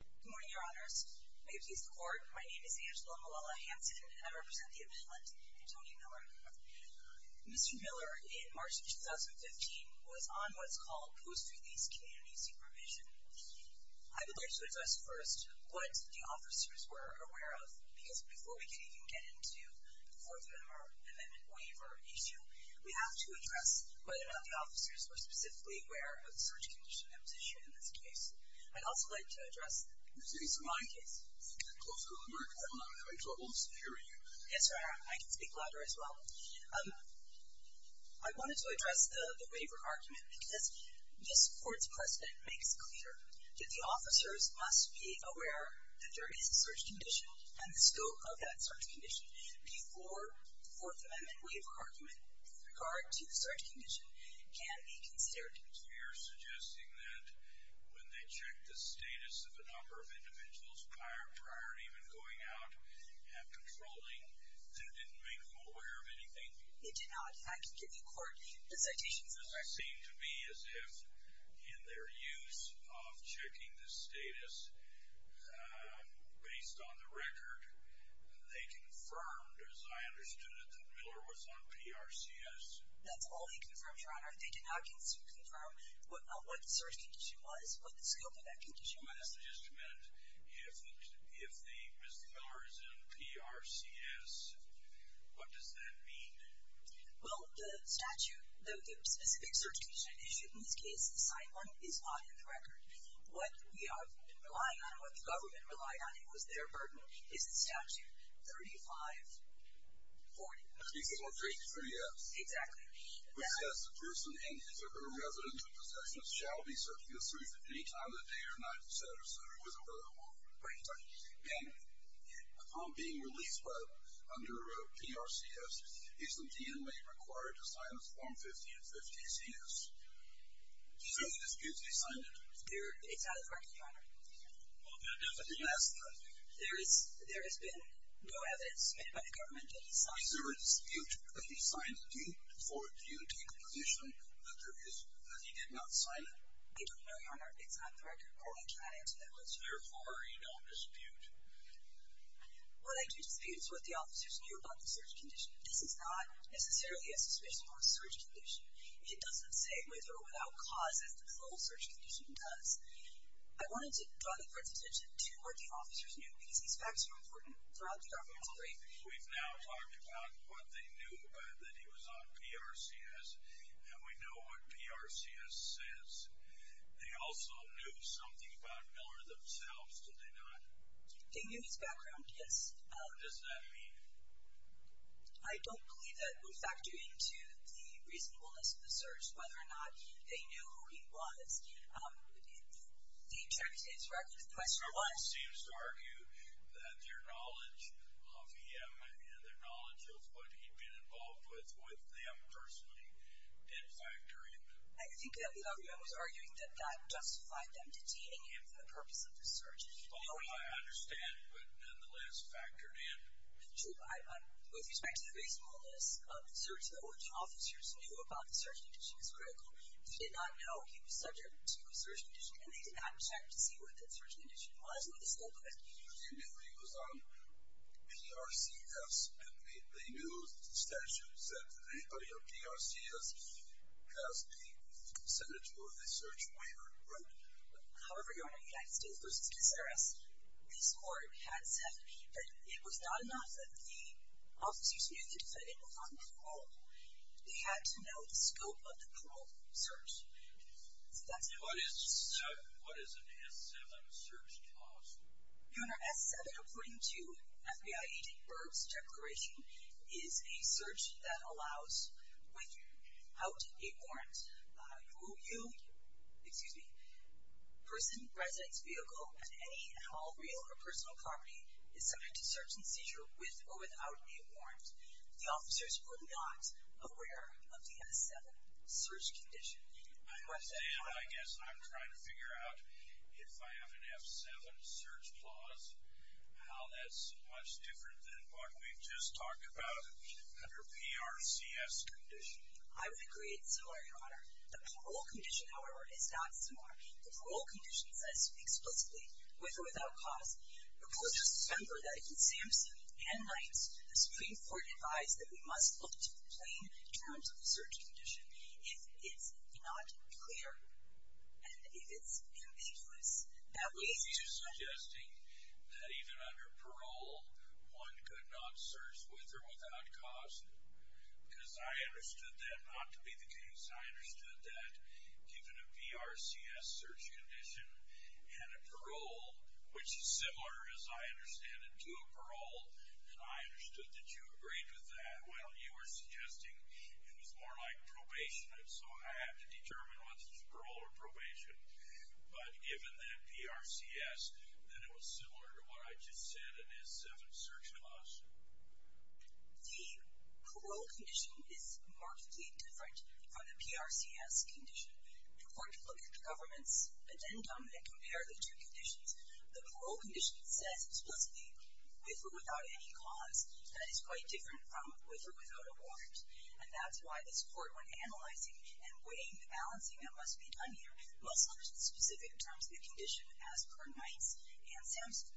Good morning, Your Honors. May it please the Court, my name is Angela Malala-Hanson, and I represent the Appellant, Tony Miller. Mr. Miller, in March of 2015, was on what's called post-release community supervision. I would like to address first what the officers were aware of, because before we can even get into the Fourth Amendment waiver issue, we have to address whether or not the officers were specifically aware of the search condition that was issued in this case. I'd also like to address the Simone case. Mr. Miller, I'm not having trouble hearing you. Yes, Your Honor, I can speak louder as well. I wanted to address the waiver argument because this Court's precedent makes clear that the officers must be aware that there is a search condition and the scope of that search condition before the Fourth Amendment waiver argument with regard to the search condition can be considered. So you're suggesting that when they checked the status of a number of individuals prior to even going out and patrolling, that didn't make them aware of anything? It did not. And I can give you, Court, a citation for that. It does seem to be as if, in their use of checking the status based on the record, they confirmed, as I understood it, that Miller was on PRCS. That's all they confirmed, Your Honor. They did not confirm what the search condition was, what the scope of that condition was. I'd also just comment, if the Mr. Miller is on PRCS, what does that mean? Well, the statute, the specific search condition issued in this case, the signed one, is not in the record. What we have been relying on and what the government relied on and was their burden is the statute 3540. 3540, yes. Exactly. Which says the person and his or her residence and possessions shall be searched in the street at any time of the day or night, et cetera, et cetera, with or without a warrant. Right. And upon being released under PRCS, is the DMA required to sign this form 5050-CS? So this can't be signed? It's not in the record, Your Honor. Well, that doesn't mean… It's a domestic. There has been no evidence made by the government that he signed it. Is there a dispute that he signed it? Do you take a position that he did not sign it? We don't know, Your Honor. It's not in the record or we cannot answer that question. Therefore, are you not in dispute? Well, I do dispute what the officers knew about the search condition. This is not necessarily a suspicion of a search condition. It doesn't say with or without cause as the full search condition does. I wanted to draw the Court's attention to what the officers knew because these facts are important throughout the governmental brief. We've now talked about what they knew about that he was on PRCS, and we know what PRCS says. They also knew something about Miller themselves, did they not? They knew his background, yes. What does that mean? I don't believe that will factor into the reasonableness of the search, whether or not they knew who he was. The attorney's record of the question was? The attorney seems to argue that their knowledge of him and their knowledge of what he'd been involved with, with them personally, did factor in. I think that the argument was arguing that that justified them detaining him for the purpose of the search. Well, I understand, but nonetheless factored in. With respect to the reasonableness of the search, though, which officers knew about the search condition is critical. They did not know he was subject to a search condition, and they did not check to see what the search condition was or the scope of it. They knew he was on PRCS, and they knew the statute said that anybody on PRCS has the senatorial search waiver, right? However, Your Honor, United States v. Cesaris, this Court had said that it was not enough that the officers knew the defendant was on parole. They had to know the scope of the parole search. What is an S-7 search clause? Your Honor, S-7, according to FBI Agent Berg's declaration, is a search that allows without a warrant. Who you, excuse me, person, residence, vehicle, and any real or personal property is subject to search and seizure with or without a warrant. The officers were not aware of the S-7 search condition. I understand. I guess I'm trying to figure out, if I have an F-7 search clause, how that's much different than what we just talked about under PRCS condition. I would agree. It's similar, Your Honor. The parole condition, however, is not similar. The parole condition says, explicitly, with or without cause. The court has discovered that in Samson and Knight's, the Supreme Court advised that we must look to the plain terms of the search condition. If it's not clear, and if it's ambiguous, that we need to- Are you suggesting that even under parole, one could not search with or without cause? Because I understood that not to be the case. I understood that given a PRCS search condition and a parole, which is similar, as I understand it, to a parole, that I understood that you agreed with that. Well, you were suggesting it was more like probation. And so I have to determine whether it's parole or probation. But given that PRCS, then it was similar to what I just said in S-7 search clause. The parole condition is markedly different from the PRCS condition. The court can look at the government's addendum and compare the two conditions. The parole condition says, explicitly, with or without any cause. That is quite different from with or without a warrant. And that's why this court, when analyzing and weighing the balancing that must be done here, must look at the specific terms of the condition as per Knight's and Samson.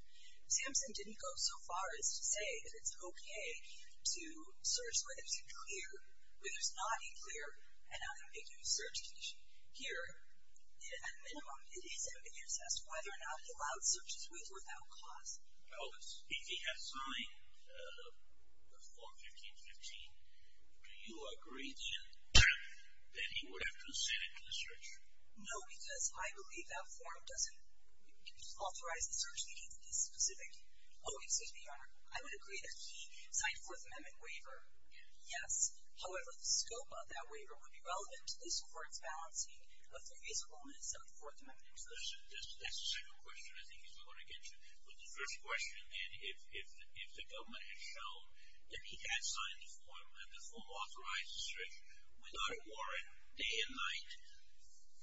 Samson didn't go so far as to say that it's okay to search where there's a clear, where there's not a clear and unambiguous search condition. Here, at minimum, it is ambiguous as to whether or not he allowed searches with or without cause. Elvis, if he had signed the Form 1515, do you agree that he would have to send it to the search? No, because I believe that form doesn't authorize the search meeting to be specific. Oh, excuse me, Your Honor. I would agree that he signed a Fourth Amendment waiver. Yes. However, the scope of that waiver would be relevant to this court's balancing of the reasonableness of the Fourth Amendment. That's the second question I think he's going to get to. But the first question, then, if the government had shown that he had signed the form, that the form authorized the search without a warrant, day and night,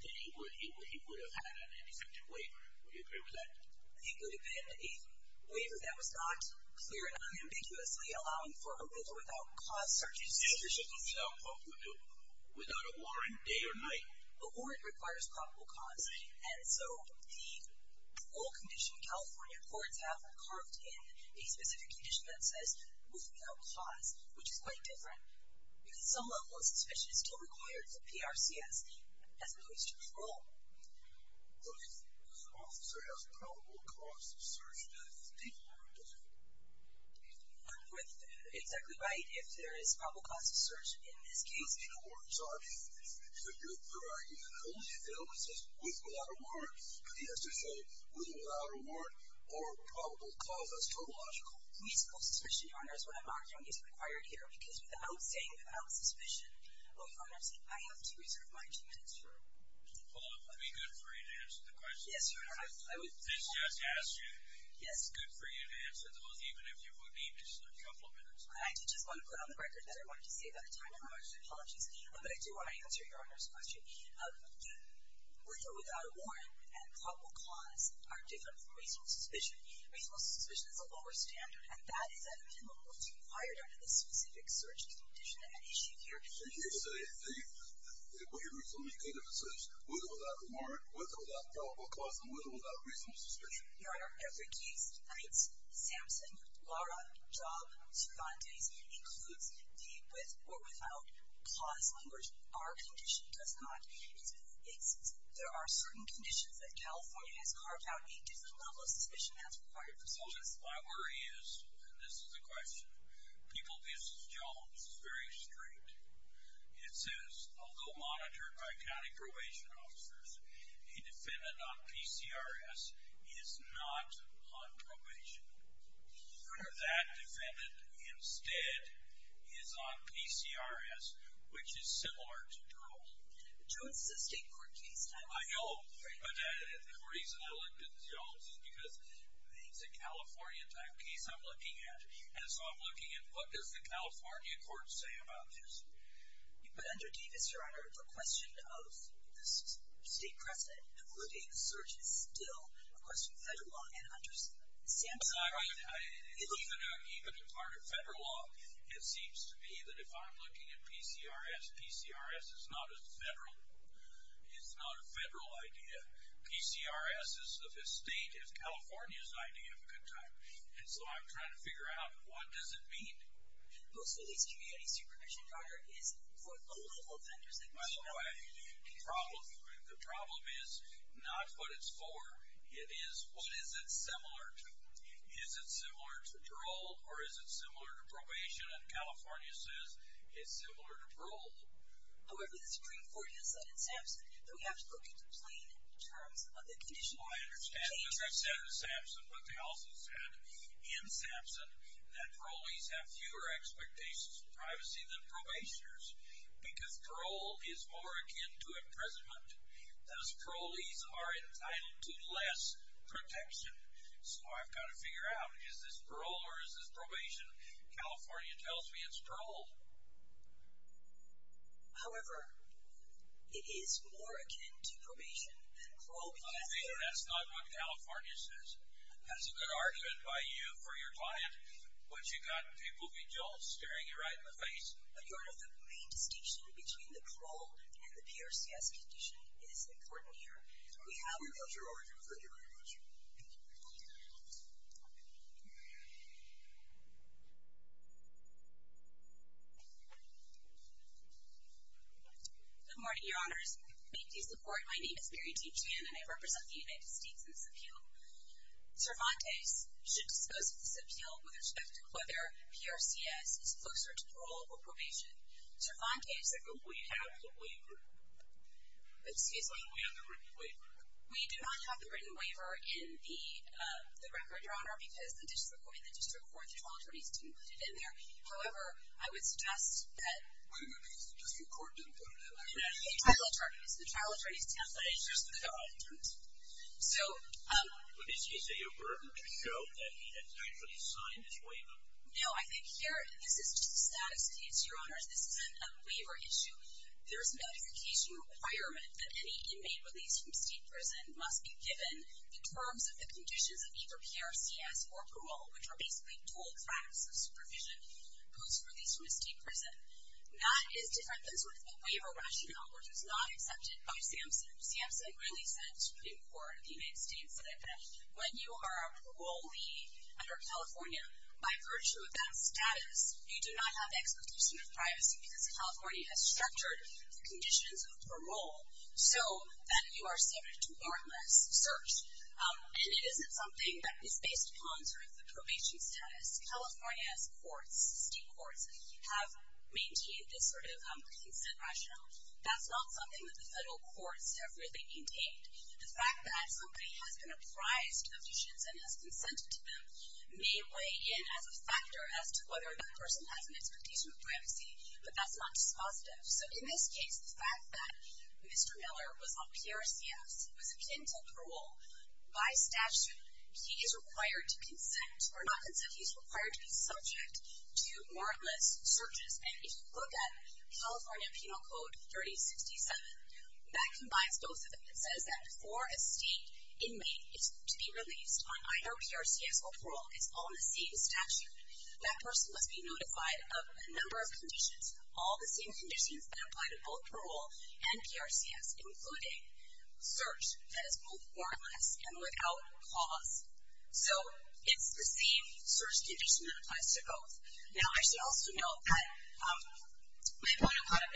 then he would have had an ineffective waiver. Would you agree with that? It would have been a waiver that was not clear and unambiguously allowing for a with or without cause search. In this particular case, without a warrant, day or night. A warrant requires probable cause. And so the oral condition California courts have are carved in a specific condition that says with or without cause, which is quite different because some level of suspicion is still required for PRCS as opposed to parole. But if the officer has probable cause of search, then it's different, isn't it? You're exactly right. If there is probable cause of search in this case. Well, you know, Your Honor, it's a good point. The only evidence is with or without a warrant. He has to show with or without a warrant or probable cause. That's total logical. Reasonable suspicion, Your Honor, is what I'm arguing is required here. Because without saying without suspicion, Your Honor, I have to reserve my two minutes. Paula, would it be good for you to answer the question? Yes, Your Honor. This just asked you. Yes. It's good for you to answer those, even if you would need just a couple of minutes. I did just want to put on the record that I wanted to save that time. I apologize. But I do want to answer Your Honor's question. The with or without a warrant and probable cause are different from reasonable suspicion. Reasonable suspicion is a lower standard, and that is at a minimum what's required under the specific search condition at issue here. So you're saying the with or without a warrant, with or without probable cause, and with or without reasonable suspicion? Your Honor, every case, and it's Samson, Lara, Job, Cervantes, includes the with or without cause language. Our condition does not. There are certain conditions that California has carved out a different level of suspicion that's required for such a case. My worry is, and this is the question, people, this is Jones, it's very straight. It says, although monitored by county probation officers, a defendant on PCRS is not on probation. Your Honor. That defendant instead is on PCRS, which is similar to Joel. But, Joel, this is a state court case. I know. But the reason I looked at Joel's is because it's a California type case I'm looking at, and so I'm looking at what does the California court say about this? But under Davis, Your Honor, the question of the state precedent and who would be in the search is still a question of federal law, and under Samson. Even in part of federal law, it seems to me that if I'm looking at PCRS, PCRS is not a federal idea. PCRS is the state, is California's idea of a good time. And so I'm trying to figure out what does it mean? Most of these community supervision, Your Honor, is for low-level offenders. By the way, the problem is not what it's for. It is what is it similar to? Is it similar to parole, or is it similar to probation? California says it's similar to parole. However, the Supreme Court has said in Samson that we have to look at the plain terms of the condition. Well, I understand what they said in Samson, but they also said in Samson that parolees have fewer expectations of privacy than probationers because parole is more akin to imprisonment. Those parolees are entitled to less protection. So I've got to figure out, is this parole or is this probation? California tells me it's parole. However, it is more akin to probation than parole because there are I think that's not what California says. That's a good argument by you for your client, but you've got people being jolted, staring you right in the face. Your Honor, the main distinction between the parole and the PRCS condition is important here. Thank you very much. Good morning, Your Honors. May it please the Court, my name is Mary T. Chan and I represent the United States in this appeal. Cervantes should dispose of this appeal with respect to whether PRCS is closer to parole or probation. But we have the waiver. Excuse me? We have the written waiver. We do not have the written waiver in the record, Your Honor, because the district court and the district court trial attorneys didn't put it in there. However, I would suggest that The district court didn't put it in there. The trial attorneys did. It's just the trial attorneys. So But is he a burden to show that he has actually signed his waiver? No, I think here, this is just the statistics, Your Honors. This isn't a waiver issue. There's a notification requirement that any inmate released from state prison must be given the terms of the conditions of either PRCS or parole, which are basically dual tracks of supervision post-release from a state prison. That is different than sort of a waiver rationale, which was not accepted by SAMHSA. SAMHSA really said to the Supreme Court of the United States that when you are a parolee under California, by virtue of that status, you do not have the expectation of privacy because California has structured the conditions of parole so that you are subject to warrantless search. And it isn't something that is based upon sort of the probation status. California's courts, city courts, have maintained this sort of consent rationale. That's not something that the federal courts have really maintained. The fact that somebody has been apprised of conditions and has consented to them may weigh in as a factor as to whether that person has an expectation of privacy, but that's not dispositive. So in this case, the fact that Mr. Miller was on PRCS, was akin to parole, by statute, he is required to consent or not consent. He's required to be subject to warrantless searches. And if you look at California Penal Code 3067, that combines both of them. It says that before a state inmate is to be released on either PRCS or parole, it's all in the same statute. That person must be notified of a number of conditions, all the same conditions that apply to both parole and PRCS, including search that is both warrantless and without cause. So it's the same search condition that applies to both. Now, I should also note that my point about it,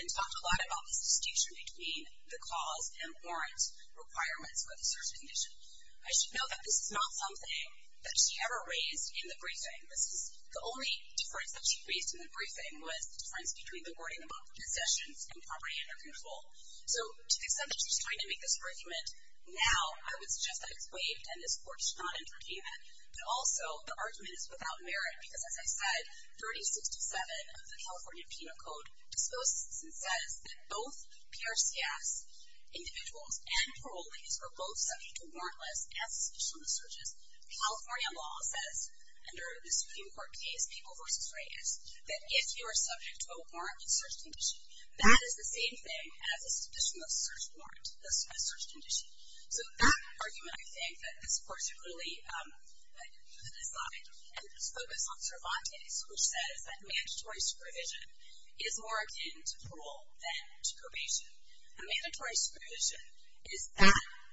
I should note that this is not something that she ever raised in the briefing. The only difference that she raised in the briefing was the difference between the wording about concessions and property under control. So to the extent that she's trying to make this argument now, I would suggest that it's waived and this Court should not intervene in it. But also, the argument is without merit because, as I said, 3067 of the California Penal Code disposes and says that both PRCS individuals and parolee are both subject to warrantless as a sufficient of searches. California law says, under the Supreme Court case, People v. Reyes, that if you are subject to a warrantless search condition, that is the same thing as a sufficient of search warrant, a search condition. So that argument, I think, that this Court should really decide, and it's focused on Cervantes, A mandatory solution is that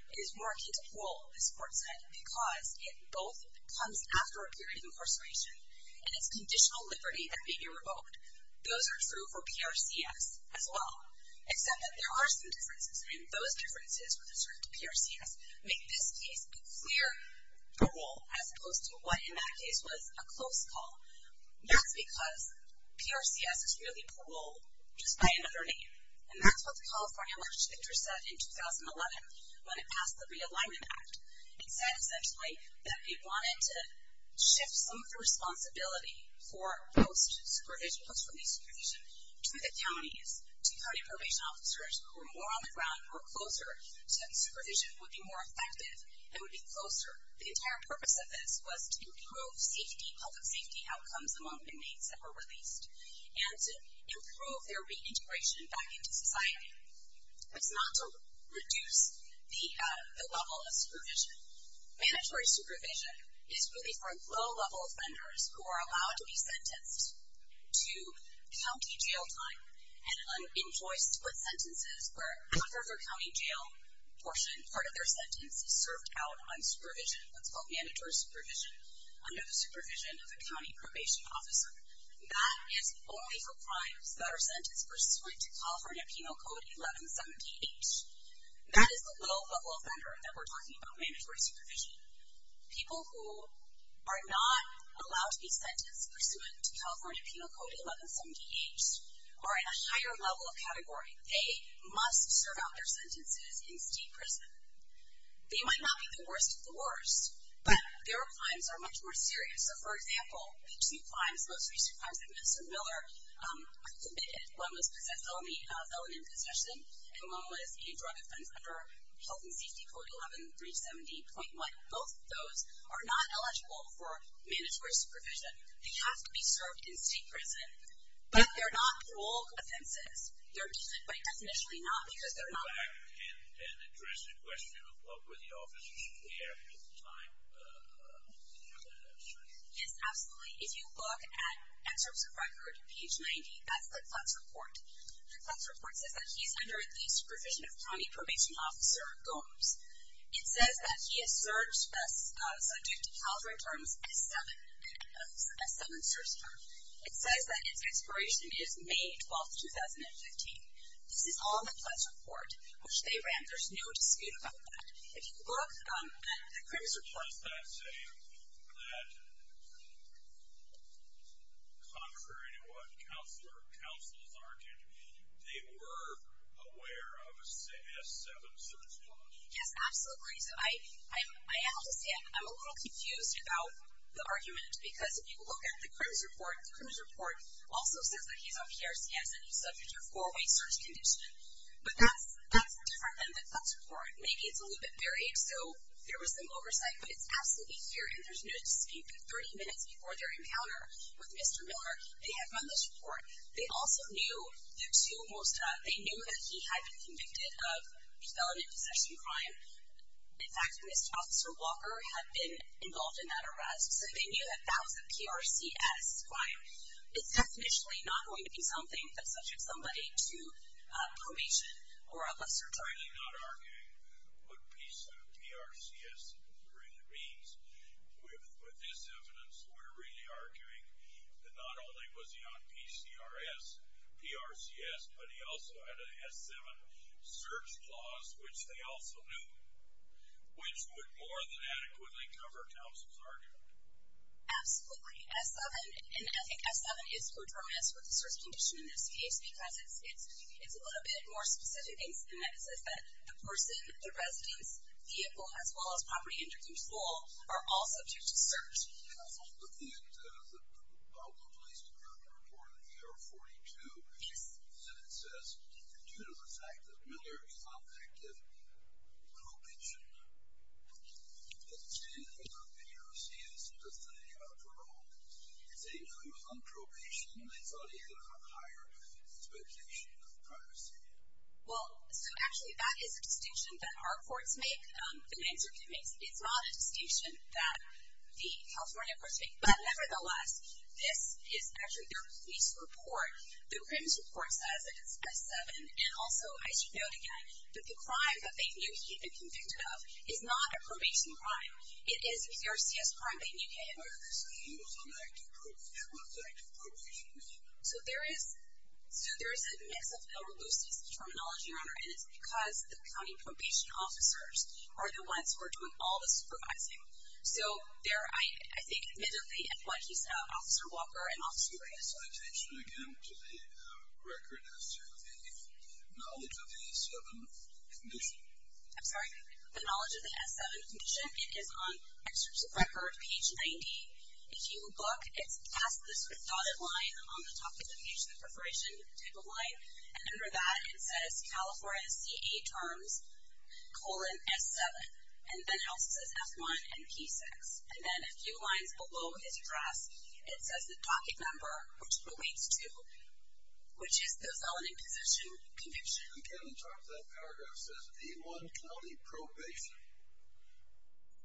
it is more key to parole, this Court said, because it both comes after a period of incarceration, and it's conditional liberty that may be revoked. Those are true for PRCS as well. Except that there are some differences, and those differences with respect to PRCS make this case a clear parole, as opposed to what in that case was a close call. That's because PRCS is really parole just by another name. And that's what the California March of Interests said in 2011 when it passed the Realignment Act. It said, essentially, that it wanted to shift some of the responsibility for post-release supervision to the counties, to county probation officers who were more on the ground, who were closer, so that supervision would be more effective and would be closer. The entire purpose of this was to improve safety, public safety outcomes among inmates that were released, and to improve their reintegration back into society. It's not to reduce the level of supervision. Mandatory supervision is really for low-level offenders who are allowed to be sentenced to county jail time and in choice split sentences where part of their county jail portion, part of their sentence, is served out on supervision, what's called mandatory supervision, under the supervision of a county probation officer. That is only for crimes that are sentenced pursuant to California Penal Code 1178. That is the low-level offender that we're talking about, mandatory supervision. People who are not allowed to be sentenced pursuant to California Penal Code 1178 are in a higher level of category. They must serve out their sentences in state prison. They might not be the worst of the worst, but their crimes are much more serious. So, for example, the two crimes, the most recent crimes that Mr. Miller committed, one was felony possession and one was a drug offense under Health and Safety Code 11370.1. Both of those are not eligible for mandatory supervision. They have to be served in state prison, but they're not parole offenses. They're deemed by definition not because they're not. Can I go back and address the question of what were the officers there at the time? Yes, absolutely. If you look at Excerpts of Record, page 90, that's the CLEPS report. The CLEPS report says that he's under the supervision of County Probation Officer Gomes. It says that he has served, thus subject to California terms, a seven-serge term. It says that its expiration is May 12, 2015. This is on the CLEPS report, which they ran. There's no dispute about that. If you look at the CRIMS report. Does that say that contrary to what counselors argued, they were aware of a seven-serge term? Yes, absolutely. I understand. I'm a little confused about the argument because if you look at the CRIMS report, the CRIMS report also says that he's on PRCS and he's subject to a four-way search condition. But that's different than the CLEPS report. Maybe it's a little bit varied, so there was some oversight, but it's absolutely here. And there's no dispute that 30 minutes before their encounter with Mr. Miller, they had run this report. They also knew that he had been convicted of felon and possession crime. In fact, Mr. Officer Walker had been involved in that arrest, so they knew that that was a PRCS crime. It's definitionally not going to be something that's subject somebody to probation or a lesser term. We're not arguing what PRCS really means. With this evidence, we're really arguing that not only was he on PCRS, PRCS, but he also had an S7 search clause, which they also knew, which would more than adequately cover Thompson's argument. Absolutely. S7, and I think S7 is predominant for the search condition in this case because it's a little bit more specific. It says that the person, the residence, vehicle, as well as property, and your school are all subject to search. I was looking at the Baltimore Police Department report in AR-42, and it says that due to the fact that Miller is on active probation, the defendant, who's on PRCS, doesn't know anything about parole. They say, no, he was on probation, and they thought he had a higher expectation of privacy. Well, so actually that is a distinction that our courts make. The mainstream case, it's not a distinction that the California courts make, but nevertheless, this is actually their police report. The crimes report says that it's S7, and also, I should note again, that the crime that they knew he had been convicted of is not a probation crime. It is a PRCS crime they knew he had been convicted of. So he was on active probation. He was on active probation. So there is a mix of ill-reluced terminology, Your Honor, and it's because the county probation officers are the ones who are doing all the supervising. So there, I think, admittedly, is what he said about Officer Walker and Officer Reyes. So I attention, again, to the record as to the knowledge of the S7 condition. I'm sorry? The knowledge of the S7 condition, it is on excerpts of record, page 90. If you look, it's past this dotted line on the top of the page, the preparation type of line, and under that it says California CA terms, colon, S7. And then it also says F1 and P6. And then a few lines below his address, it says the docket number, which relates to which is the felony position conviction. Again, on top of that paragraph, it says E1 County Probation,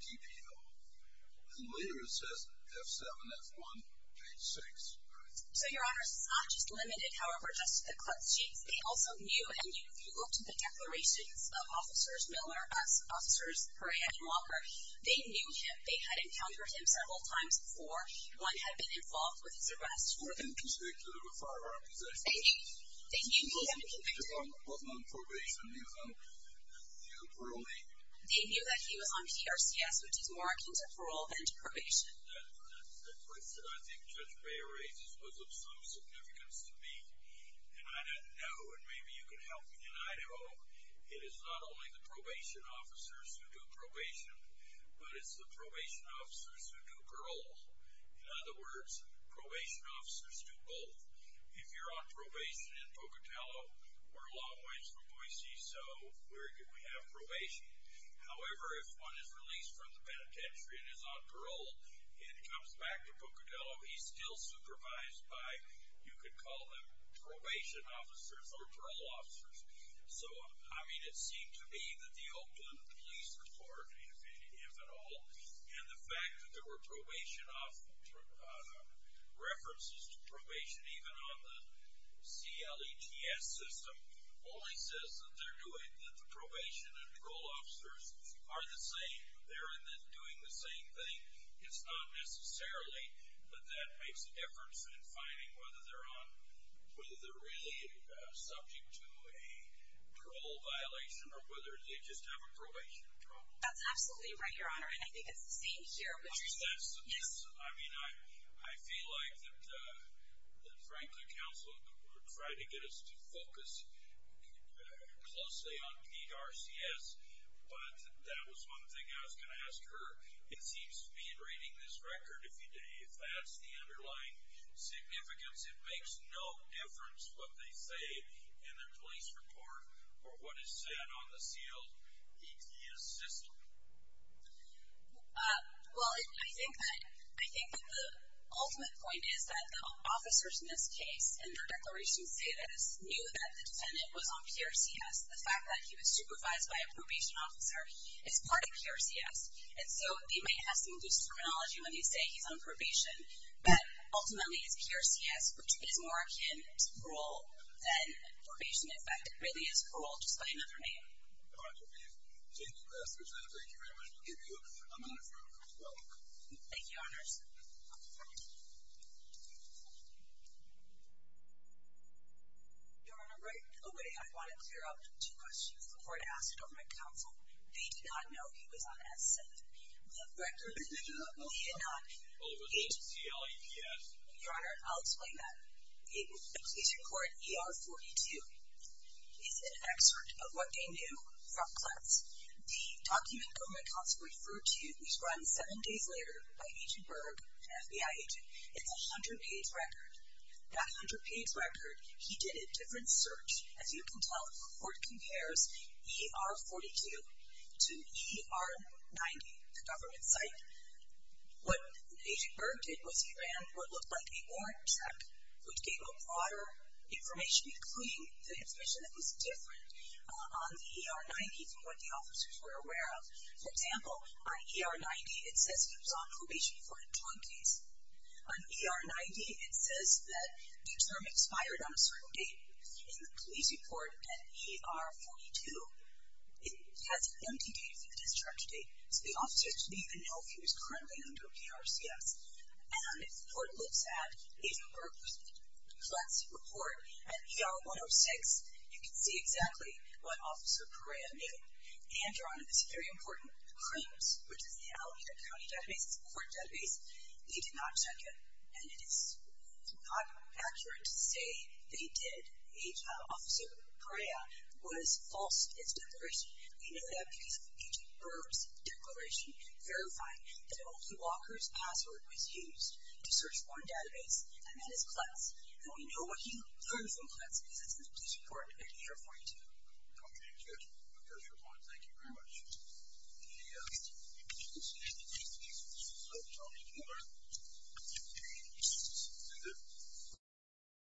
TPO. And later it says F7, F1, page 6. So, Your Honor, it's not just limited, however, just to the club sheets. They also knew, and if you look to the declarations of Officers Miller, officers Perea and Walker, they knew him. They had encountered him several times before. One had been involved with his arrest. Were they convicted of a firearm possession? They knew he had been convicted. Was he on probation? He was on parole? They knew that he was on PRCS, which is more akin to parole than to probation. That's what I think Judge Beyer raises was of some significance to me. And I don't know, and maybe you can help me, and I don't know. It is not only the probation officers who do probation, but it's the probation officers who do parole. In other words, probation officers do both. If you're on probation in Pocatello, we're a long ways from Boise, so where could we have probation? However, if one is released from the penitentiary and is on parole and comes back to Pocatello, he's still supervised by, you could call them probation officers or parole officers. So, I mean, it seemed to me that the Oakland Police Department, if at all, and the fact that there were probation officers, references to probation even on the CLETS system, only says that they're doing, that the probation and the coal officers are the same. They're doing the same thing. It's not necessarily that that makes a difference in finding whether they're on, whether they're really subject to a parole violation or whether they just have a probation control. That's absolutely right, Your Honor, and I think it's the same here. Yes, I mean, I feel like that, frankly, counsel tried to get us to focus closely on PRCS, but that was one thing I was going to ask her. It seems to me in reading this record, if that's the underlying significance, it makes no difference what they say in their police report or what is said on the CLETS system. Well, I think that the ultimate point is that the officers in this case and their declarations say this knew that the defendant was on PRCS. The fact that he was supervised by a probation officer is part of PRCS, and so he might have some loose terminology when they say he's on probation, but ultimately it's PRCS, which is more akin to parole than probation. In fact, it really is parole, just by another name. All right. We've taken the last question. Thank you very much. We'll give you a moment for a quick welcome. Thank you, Your Honors. Your Honor, right away I want to clear up two questions the court asked over my counsel. They did not know he was on S7. The record that the court released did not include CLETS. Your Honor, I'll explain that. The police report ER-42 is an excerpt of what they knew from CLETS. The document that my counsel referred to, which was run seven days later by Agent Berg, an FBI agent, is a 100-page record. That 100-page record, he did a different search. As you can tell, the court compares ER-42 to ER-90, the government site. What Agent Berg did was he ran what looked like a warrant check, which gave a broader information, including the information that was different on the ER-90 from what the officers were aware of. For example, on ER-90 it says he was on probation for a drug case. On ER-90 it says that the term expired on a certain date. In the police report at ER-42, it has an empty date for the discharge date, so the officers didn't even know if he was currently under PRCS. And if the court looks at Agent Berg's CLETS report at ER-106, you can see exactly what Officer Perea knew. And, Your Honor, this very important claims, which is the Alameda County database, it's a court database, they did not check it. And it is not accurate to say they did. Agent Officer Perea was false in his declaration. We know that because of Agent Berg's declaration verifying that only Walker's password was used to search one database, and that is CLETS. And we know what he learned from CLETS because it's in the police report at ER-42. Okay, that's good. There's your point. Thank you very much. Any other questions? Okay. All right. Thank you. Thank you.